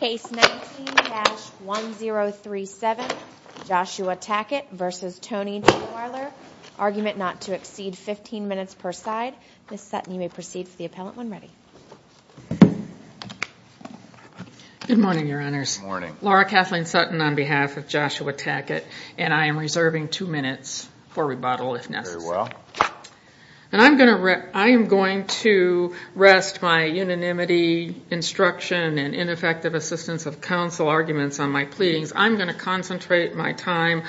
Case 19-1037, Joshua Tackett v. Tony Trierweiler, argument not to exceed 15 minutes per side. Ms. Sutton, you may proceed for the appellant when ready. Good morning, Your Honors. Good morning. Laura Kathleen Sutton on behalf of Joshua Tackett, and I am reserving two minutes for rebuttal if necessary. Very well. And I'm going to rest my unanimity, instruction, and ineffective assistance of counsel arguments on my pleadings. I'm going to concentrate my time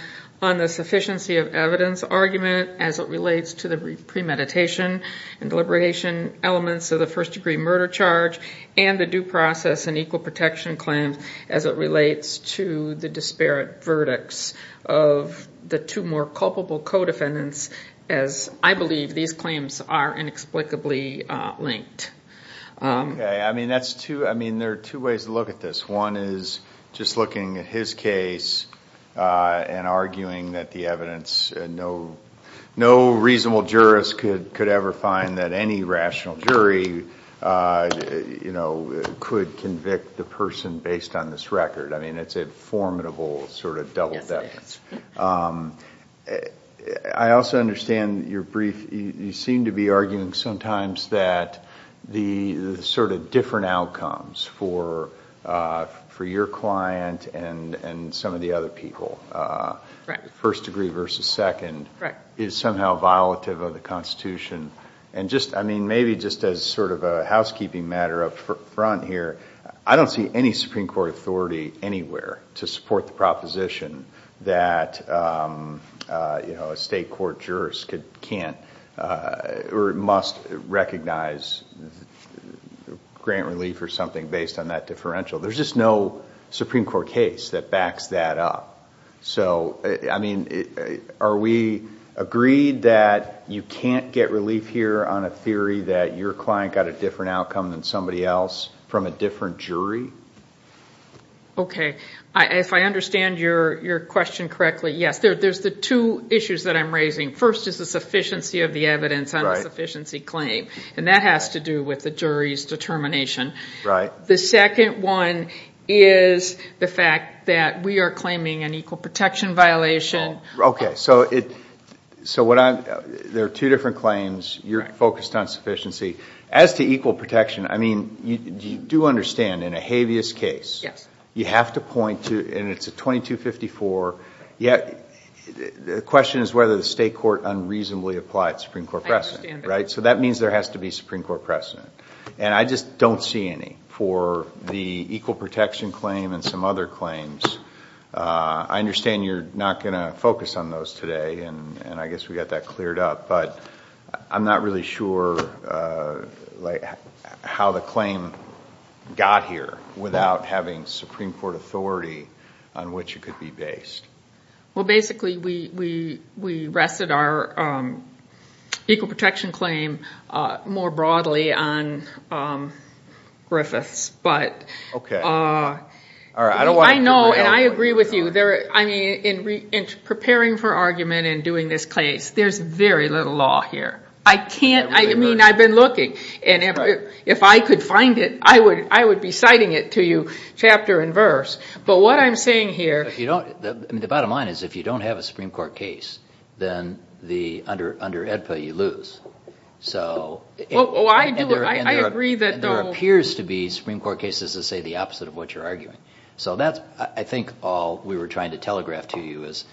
on the sufficiency of evidence argument as it relates to the premeditation and deliberation elements of the first degree murder charge and the due process and equal protection claims as it relates to the disparate verdicts of the two more culpable co-defendants, as I believe these claims are inexplicably linked. Okay. I mean, there are two ways to look at this. One is just looking at his case and arguing that the evidence... no reasonable jurist could ever find that any rational jury could convict the person based on this record. I mean, it's a formidable sort of double-decker. Yes, it is. I also understand your brief. You seem to be arguing sometimes that the sort of different outcomes for your client and some of the other people, first degree versus second, is somehow violative of the Constitution. And just, I mean, maybe just as sort of a housekeeping matter up front here, I don't see any Supreme Court authority anywhere to support the proposition that, you know, a state court jurist can't or must recognize grant relief or something based on that differential. There's just no Supreme Court case that backs that up. So, I mean, are we agreed that you can't get relief here on a theory that your client got a different outcome than somebody else from a different jury? Okay. If I understand your question correctly, yes. There's the two issues that I'm raising. First is the sufficiency of the evidence on a sufficiency claim, and that has to do with the jury's determination. Right. The second one is the fact that we are claiming an equal protection violation. Okay. So there are two different claims. You're focused on sufficiency. As to equal protection, I mean, you do understand in a habeas case, you have to point to, and it's a 2254, the question is whether the state court unreasonably applied Supreme Court precedent. I understand that. Right? So that means there has to be Supreme Court precedent. And I just don't see any for the equal protection claim and some other claims. I understand you're not going to focus on those today, and I guess we got that cleared up, but I'm not really sure how the claim got here without having Supreme Court authority on which it could be based. Well, basically, we rested our equal protection claim more broadly on Griffith's. Okay. I know, and I agree with you. I mean, in preparing for argument and doing this case, there's very little law here. I can't, I mean, I've been looking, and if I could find it, I would be citing it to you chapter and verse. But what I'm saying here. If you don't, I mean, the bottom line is if you don't have a Supreme Court case, then under AEDPA, you lose. So. Well, I agree that. There appears to be Supreme Court cases that say the opposite of what you're arguing. So that's, I think, all we were trying to telegraph to you is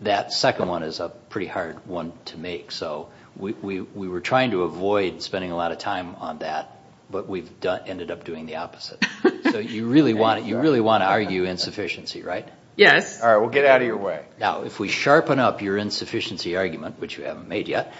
that second one is a pretty hard one to make. So we were trying to avoid spending a lot of time on that, but we've ended up doing the opposite. So you really want to argue insufficiency, right? Yes. All right. We'll get out of your way. Now, if we sharpen up your insufficiency argument, which you haven't made yet,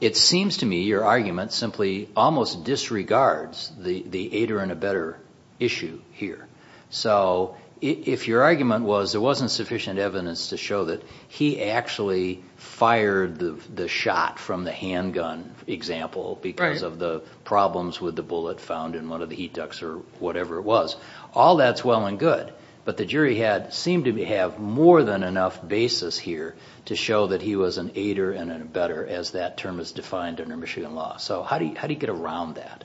it seems to me your argument simply almost disregards the aider and abetter issue here. So if your argument was there wasn't sufficient evidence to show that he actually fired the shot from the handgun example because of the problems with the bullet found in one of the heat ducts or whatever it was, all that's well and good. But the jury seemed to have more than enough basis here to show that he was an aider and an abetter, as that term is defined under Michigan law. So how do you get around that?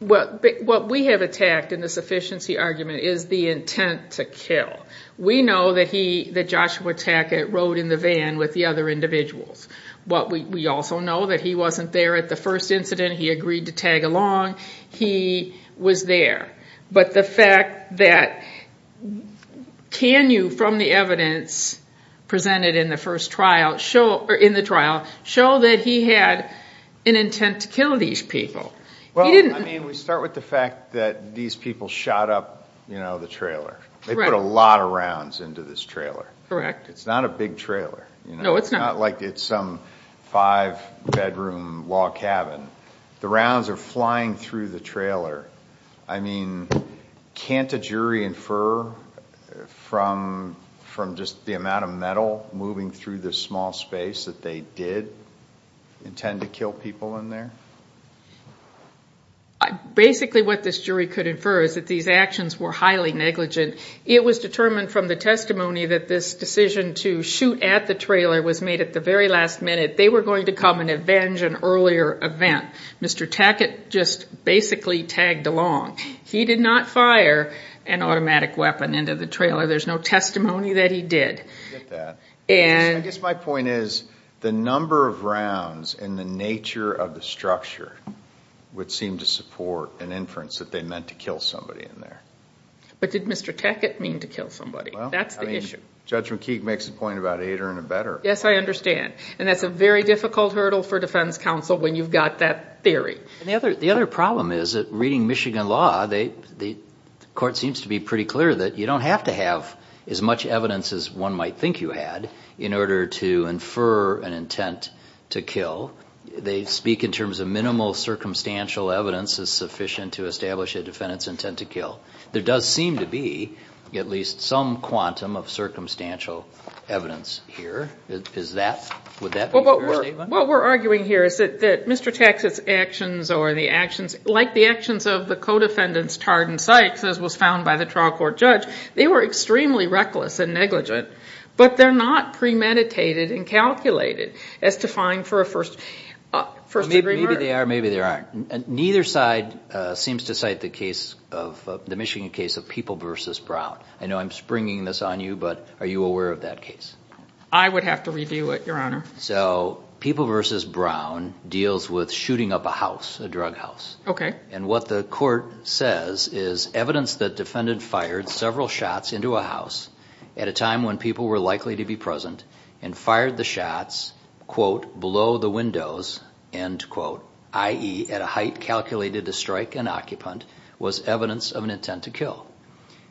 Well, what we have attacked in the sufficiency argument is the intent to kill. We know that Joshua Tackett rode in the van with the other individuals. We also know that he wasn't there at the first incident. He agreed to tag along. He was there. But the fact that can you, from the evidence presented in the trial, show that he had an intent to kill these people? Well, I mean, we start with the fact that these people shot up the trailer. They put a lot of rounds into this trailer. Correct. It's not a big trailer. No, it's not. It's not like it's some five-bedroom log cabin. The rounds are flying through the trailer. I mean, can't a jury infer from just the amount of metal moving through this small space that they did intend to kill people in there? Basically what this jury could infer is that these actions were highly negligent. It was determined from the testimony that this decision to shoot at the trailer was made at the very last minute. They were going to come and avenge an earlier event. Mr. Tackett just basically tagged along. He did not fire an automatic weapon into the trailer. I get that. I guess my point is the number of rounds and the nature of the structure would seem to support an inference that they meant to kill somebody in there. But did Mr. Tackett mean to kill somebody? That's the issue. Judge McKeague makes a point about a later and a better. Yes, I understand. And that's a very difficult hurdle for defense counsel when you've got that theory. The other problem is that reading Michigan law, the court seems to be pretty clear that you don't have to have as much evidence as one might think you had in order to infer an intent to kill. They speak in terms of minimal circumstantial evidence is sufficient to establish a defendant's intent to kill. There does seem to be at least some quantum of circumstantial evidence here. Would that be your statement? What we're arguing here is that Mr. Tackett's actions or the actions, like the actions of the co-defendants Tard and Sykes, as was found by the trial court judge, they were extremely reckless and negligent. But they're not premeditated and calculated as defined for a first degree murder. Maybe they are, maybe they aren't. Neither side seems to cite the case, the Michigan case of People v. Brown. I know I'm springing this on you, but are you aware of that case? I would have to review it, Your Honor. So People v. Brown deals with shooting up a house, a drug house. Okay. And what the court says is evidence that defendant fired several shots into a house at a time when people were likely to be present and fired the shots, quote, below the windows, end quote, i.e. at a height calculated to strike an occupant, was evidence of an intent to kill.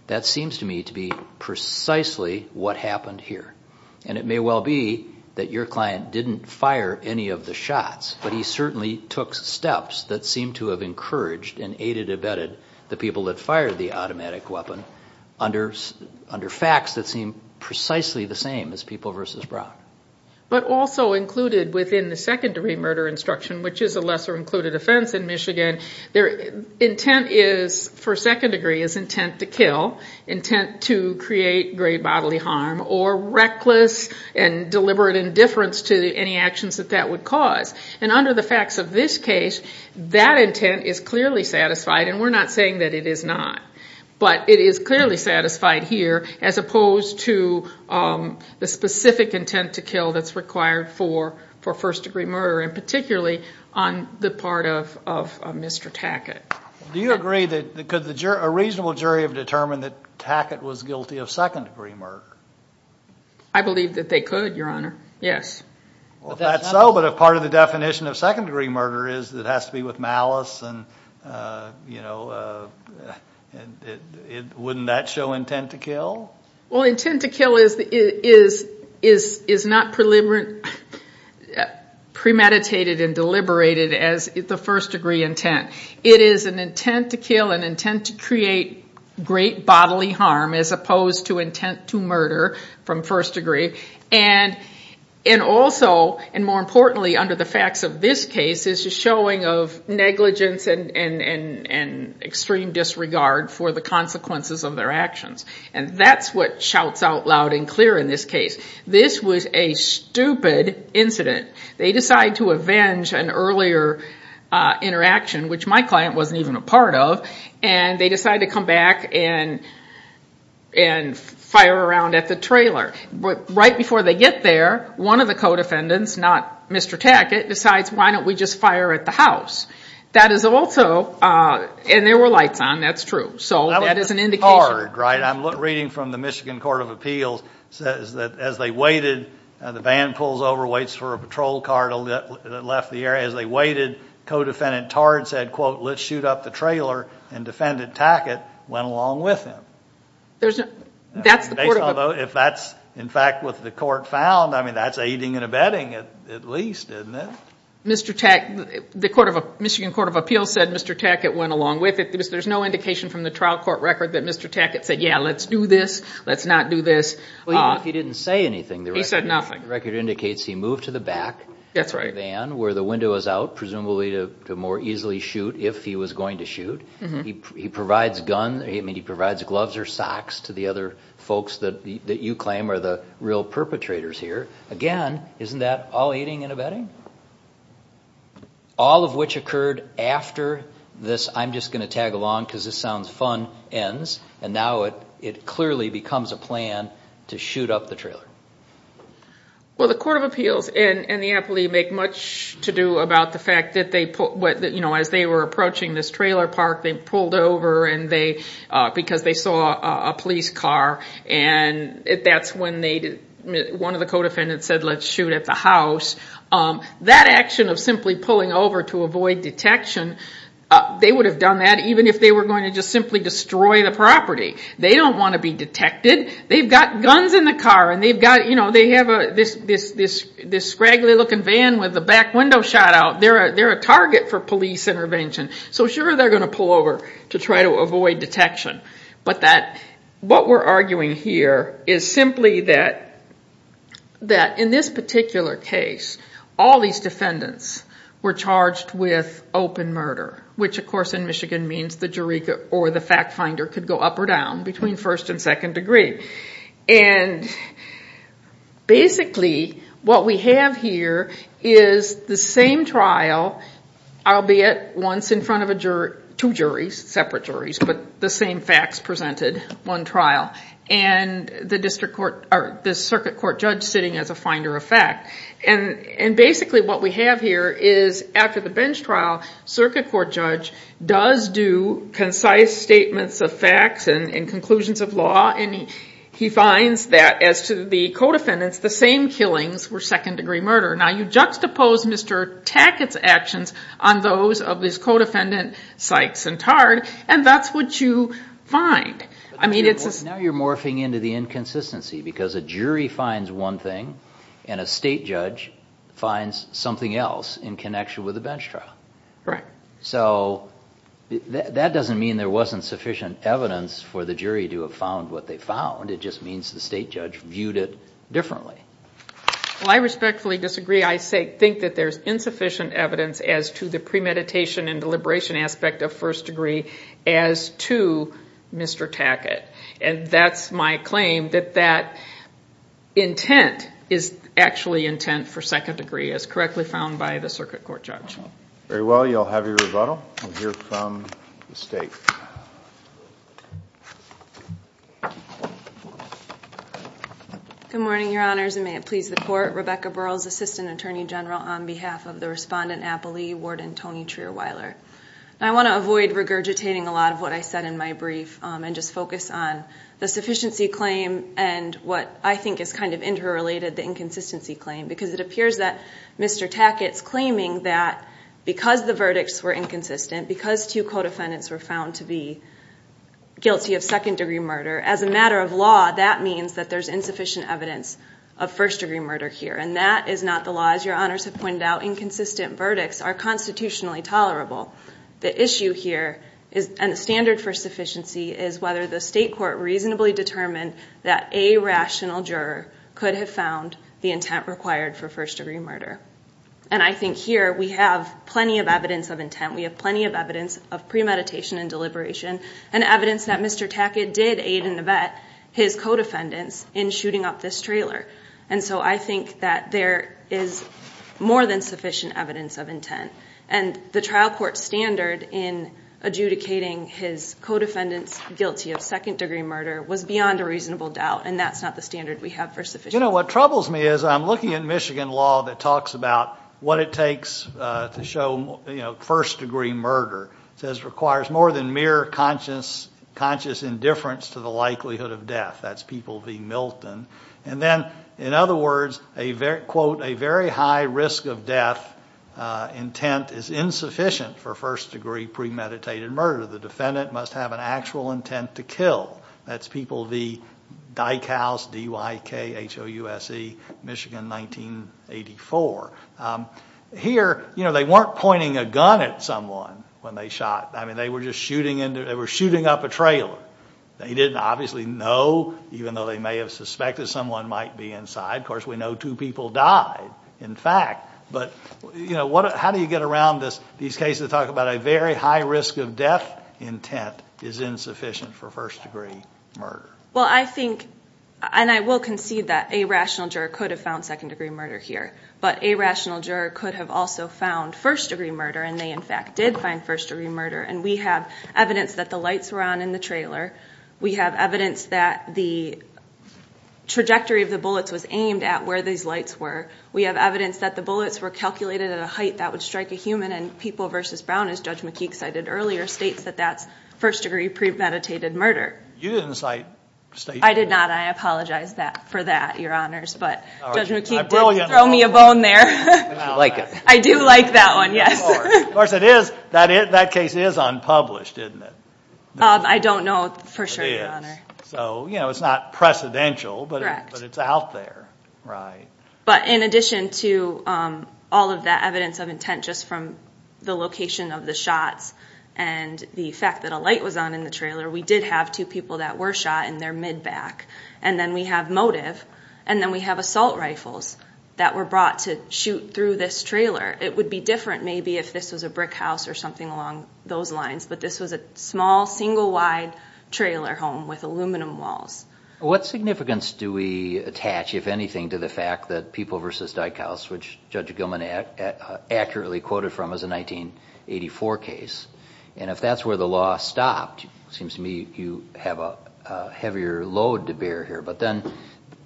That seems to me to be precisely what happened here. And it may well be that your client didn't fire any of the shots, but he certainly took steps that seem to have encouraged and aided abetted the people that fired the automatic weapon under facts that seem precisely the same as People v. Brown. But also included within the second degree murder instruction, which is a lesser included offense in Michigan, their intent is, for second degree, is intent to kill, intent to create grave bodily harm, or reckless and deliberate indifference to any actions that that would cause. And under the facts of this case, that intent is clearly satisfied, and we're not saying that it is not. But it is clearly satisfied here, as opposed to the specific intent to kill that's required for first degree murder, and particularly on the part of Mr. Tackett. Do you agree that could a reasonable jury have determined that Tackett was guilty of second degree murder? I believe that they could, Your Honor. Yes. Well, if that's so, but if part of the definition of second degree murder is it has to be with malice, wouldn't that show intent to kill? Well, intent to kill is not premeditated and deliberated as the first degree intent. It is an intent to kill, an intent to create great bodily harm, as opposed to intent to murder from first degree. And also, and more importantly, under the facts of this case, is a showing of negligence and extreme disregard for the consequences of their actions. And that's what shouts out loud and clear in this case. This was a stupid incident. They decide to avenge an earlier interaction, which my client wasn't even a part of, and they decide to come back and fire around at the trailer. Right before they get there, one of the co-defendants, not Mr. Tackett, decides why don't we just fire at the house. That is also, and there were lights on, that's true, so that is an indication. I'm reading from the Michigan Court of Appeals, says that as they waited, the van pulls over, waits for a patrol car that left the area. As they waited, co-defendant Tard said, quote, let's shoot up the trailer, and defendant Tackett went along with him. If that's in fact what the court found, I mean, that's aiding and abetting at least, isn't it? Mr. Tackett, the Michigan Court of Appeals said Mr. Tackett went along with it. There's no indication from the trial court record that Mr. Tackett said, yeah, let's do this, let's not do this. Well, even if he didn't say anything. He said nothing. The record indicates he moved to the back of the van where the window is out, presumably to more easily shoot if he was going to shoot. He provides gloves or socks to the other folks that you claim are the real perpetrators here. Again, isn't that all aiding and abetting? All of which occurred after this, I'm just going to tag along because this sounds fun, ends, and now it clearly becomes a plan to shoot up the trailer. Well, the Court of Appeals and the appellee make much to do about the fact that as they were approaching this trailer park, they pulled over because they saw a police car, and that's when one of the co-defendants said, let's shoot at the house. That action of simply pulling over to avoid detection, they would have done that even if they were going to just simply destroy the property. They don't want to be detected. They've got guns in the car, and they have this scraggly looking van with a back window shot out. They're a target for police intervention, so sure they're going to pull over to try to avoid detection. But what we're arguing here is simply that in this particular case, all these defendants were charged with open murder, which of course in Michigan means the jury or the fact finder could go up or down between first and second degree. Basically, what we have here is the same trial, albeit once in front of two separate juries, but the same facts presented, one trial, and the circuit court judge sitting as a finder of fact. Basically, what we have here is after the bench trial, circuit court judge does do concise statements of facts and conclusions of law, and he finds that as to the co-defendants, the same killings were second degree murder. Now, you juxtapose Mr. Tackett's actions on those of his co-defendant Sykes and Tard, and that's what you find. Now you're morphing into the inconsistency because a jury finds one thing and a state judge finds something else in connection with the bench trial. Correct. So that doesn't mean there wasn't sufficient evidence for the jury to have found what they found. It just means the state judge viewed it differently. Well, I respectfully disagree. I think that there's insufficient evidence as to the premeditation and deliberation aspect of first degree as to Mr. Tackett, and that's my claim that that intent is actually intent for second degree as correctly found by the circuit court judge. Very well. You'll have your rebuttal. We'll hear from the state. Good morning, Your Honors, and may it please the Court. Rebecca Burrell is Assistant Attorney General on behalf of the Respondent Appellee, Warden Tony Trierweiler. I want to avoid regurgitating a lot of what I said in my brief and just focus on the sufficiency claim and what I think is kind of interrelated, the inconsistency claim, because it appears that Mr. Tackett's claiming that because the verdicts were inconsistent, because two co-defendants were found to be guilty of second degree murder, as a matter of law, that means that there's insufficient evidence of first degree murder here, and that is not the law. As Your Honors have pointed out, inconsistent verdicts are constitutionally tolerable. The issue here and the standard for sufficiency is whether the state court reasonably determined that a rational juror could have found the intent required for first degree murder, and I think here we have plenty of evidence of intent. We have plenty of evidence of premeditation and deliberation and evidence that Mr. Tackett did aid and abet his co-defendants in shooting up this trailer, and so I think that there is more than sufficient evidence of intent, and the trial court standard in adjudicating his co-defendants guilty of second degree murder was beyond a reasonable doubt, and that's not the standard we have for sufficiency. You know, what troubles me is I'm looking at Michigan law that talks about what it takes to show first degree murder. It says it requires more than mere conscious indifference to the likelihood of death. That's people v. Milton, and then, in other words, a very high risk of death intent is insufficient for first degree premeditated murder. That's people v. Dyckhouse, D-Y-K-H-O-U-S-E, Michigan, 1984. Here, you know, they weren't pointing a gun at someone when they shot. I mean, they were just shooting up a trailer. They didn't obviously know, even though they may have suspected someone might be inside. Of course, we know two people died, in fact, but, you know, how do you get around these cases that talk about a very high risk of death intent is insufficient for first degree murder? Well, I think, and I will concede that a rational juror could have found second degree murder here, but a rational juror could have also found first degree murder, and they, in fact, did find first degree murder, and we have evidence that the lights were on in the trailer. We have evidence that the trajectory of the bullets was aimed at where these lights were. We have evidence that the bullets were calculated at a height that would strike a human, and People v. Brown, as Judge McKeek cited earlier, states that that's first degree premeditated murder. You didn't cite state murder. I did not. I apologize for that, Your Honors, but Judge McKeek didn't throw me a bone there. I like it. I do like that one, yes. Of course, that case is unpublished, isn't it? I don't know for sure, Your Honor. So, you know, it's not precedential, but it's out there. Right. But in addition to all of that evidence of intent just from the location of the shots and the fact that a light was on in the trailer, we did have two people that were shot in their mid-back, and then we have motive, and then we have assault rifles that were brought to shoot through this trailer. It would be different maybe if this was a brick house or something along those lines, but this was a small, single-wide trailer home with aluminum walls. What significance do we attach, if anything, to the fact that People v. Dyckhaus, which Judge Gilman accurately quoted from as a 1984 case, and if that's where the law stopped, it seems to me you have a heavier load to bear here. But then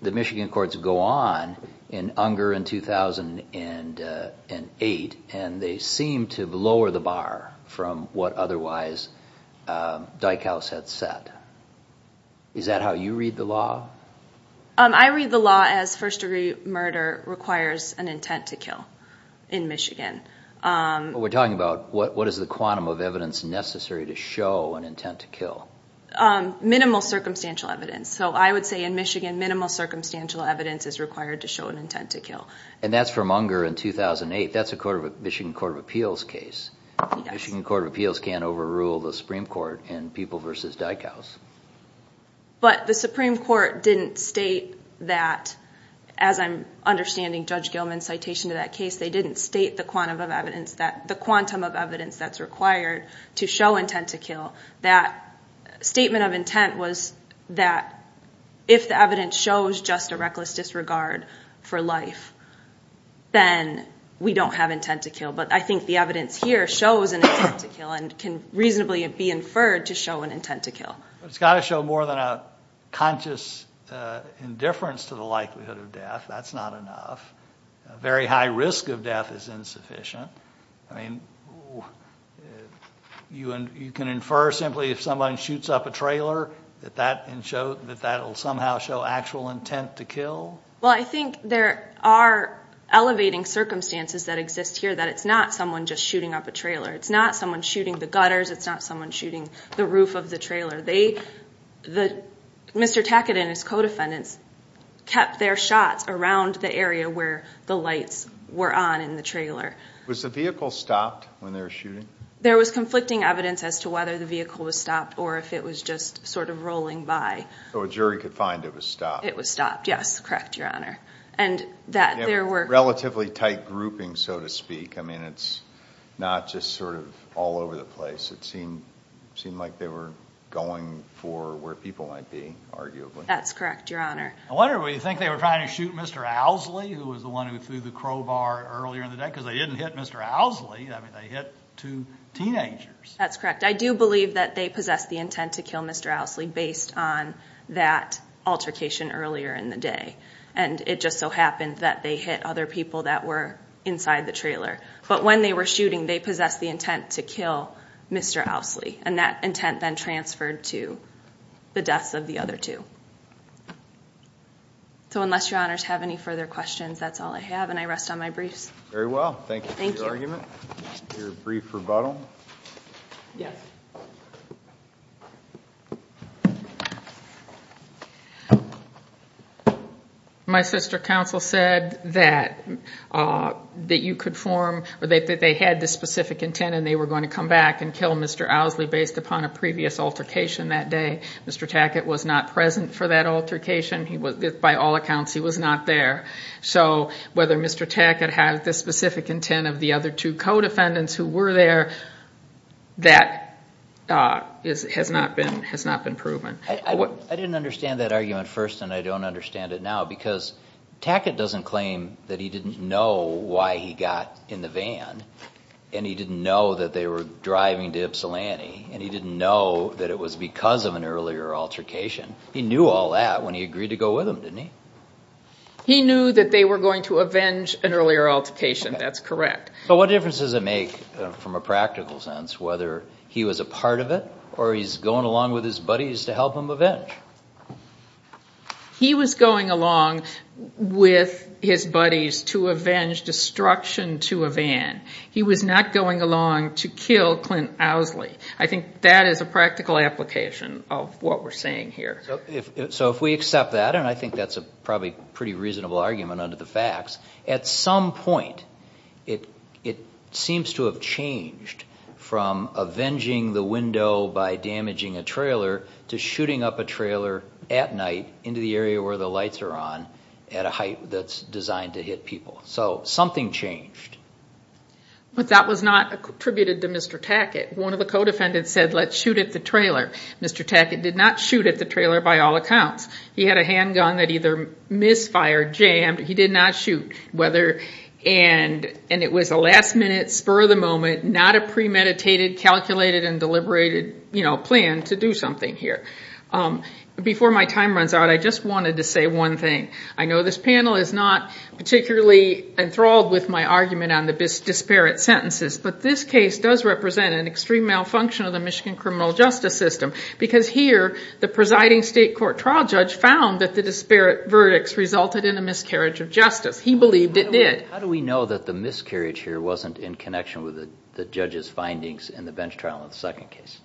the Michigan courts go on in Unger in 2008, and they seem to lower the bar from what otherwise Dyckhaus had set. Is that how you read the law? I read the law as first-degree murder requires an intent to kill in Michigan. But we're talking about what is the quantum of evidence necessary to show an intent to kill. Minimal circumstantial evidence. So I would say in Michigan, minimal circumstantial evidence is required to show an intent to kill. And that's from Unger in 2008. That's a Michigan Court of Appeals case. Michigan Court of Appeals can't overrule the Supreme Court in People v. Dyckhaus. But the Supreme Court didn't state that, as I'm understanding Judge Gilman's citation to that case, they didn't state the quantum of evidence that's required to show intent to kill. That statement of intent was that if the evidence shows just a reckless disregard for life, then we don't have intent to kill. But I think the evidence here shows an intent to kill and can reasonably be inferred to show an intent to kill. It's got to show more than a conscious indifference to the likelihood of death. That's not enough. A very high risk of death is insufficient. You can infer simply if someone shoots up a trailer that that will somehow show actual intent to kill? Well, I think there are elevating circumstances that exist here, that it's not someone just shooting up a trailer. It's not someone shooting the gutters. It's not someone shooting the roof of the trailer. Mr. Tackett and his co-defendants kept their shots around the area where the lights were on in the trailer. Was the vehicle stopped when they were shooting? There was conflicting evidence as to whether the vehicle was stopped or if it was just sort of rolling by. So a jury could find it was stopped. It was stopped, yes, correct, Your Honor. Relatively tight grouping, so to speak. I mean, it's not just sort of all over the place. It seemed like they were going for where people might be, arguably. That's correct, Your Honor. I wonder, do you think they were trying to shoot Mr. Owsley, who was the one who threw the crowbar earlier in the day? Because they didn't hit Mr. Owsley. I mean, they hit two teenagers. That's correct. I do believe that they possessed the intent to kill Mr. Owsley based on that altercation earlier in the day, and it just so happened that they hit other people that were inside the trailer. But when they were shooting, they possessed the intent to kill Mr. Owsley, and that intent then transferred to the deaths of the other two. So unless Your Honors have any further questions, that's all I have, and I rest on my briefs. Very well. Thank you for your argument, your brief rebuttal. Yes. My sister counsel said that you could form, that they had this specific intent and they were going to come back and kill Mr. Owsley based upon a previous altercation that day. Mr. Tackett was not present for that altercation. By all accounts, he was not there. So whether Mr. Tackett had this specific intent of the other two co-defendants who were there, that has not been proven. I didn't understand that argument first, and I don't understand it now, because Tackett doesn't claim that he didn't know why he got in the van, and he didn't know that they were driving to Ypsilanti, and he didn't know that it was because of an earlier altercation. He knew all that when he agreed to go with them, didn't he? He knew that they were going to avenge an earlier altercation. That's correct. But what difference does it make from a practical sense, whether he was a part of it or he's going along with his buddies to help him avenge? He was going along with his buddies to avenge destruction to a van. He was not going along to kill Clint Owsley. I think that is a practical application of what we're saying here. So if we accept that, and I think that's a probably pretty reasonable argument under the facts, at some point it seems to have changed from avenging the window by damaging a trailer to shooting up a trailer at night into the area where the lights are on at a height that's designed to hit people. So something changed. But that was not attributed to Mr. Tackett. One of the co-defendants said, let's shoot at the trailer. Mr. Tackett did not shoot at the trailer by all accounts. He had a handgun that either misfired, jammed. He did not shoot, and it was a last-minute, spur-of-the-moment, not a premeditated, calculated, and deliberated plan to do something here. Before my time runs out, I just wanted to say one thing. I know this panel is not particularly enthralled with my argument on the disparate sentences, but this case does represent an extreme malfunction of the Michigan criminal justice system because here the presiding state court trial judge found that the disparate verdicts resulted in a miscarriage of justice. He believed it did. How do we know that the miscarriage here wasn't in connection with the judge's findings in the bench trial in the second case?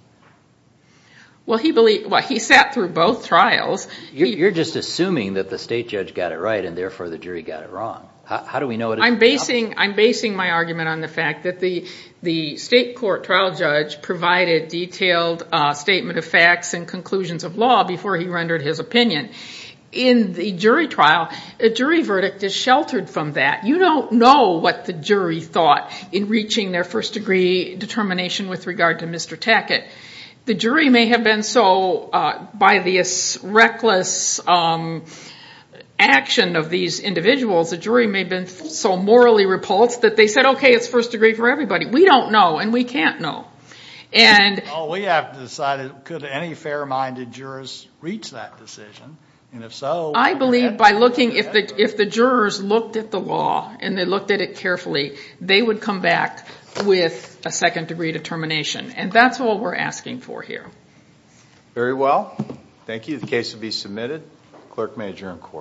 Well, he sat through both trials. You're just assuming that the state judge got it right, and therefore the jury got it wrong. How do we know it is the opposite? I'm basing my argument on the fact that the state court trial judge provided detailed statement of facts and conclusions of law before he rendered his opinion. In the jury trial, a jury verdict is sheltered from that. You don't know what the jury thought in reaching their first-degree determination with regard to Mr. Tackett. The jury may have been so, by this reckless action of these individuals, the jury may have been so morally repulsed that they said, okay, it's first-degree for everybody. We don't know, and we can't know. Well, we have to decide, could any fair-minded jurors reach that decision? And if so... I believe by looking, if the jurors looked at the law and they looked at it carefully, they would come back with a second-degree determination. And that's all we're asking for here. Very well. Thank you. The case will be submitted. Clerk may adjourn court.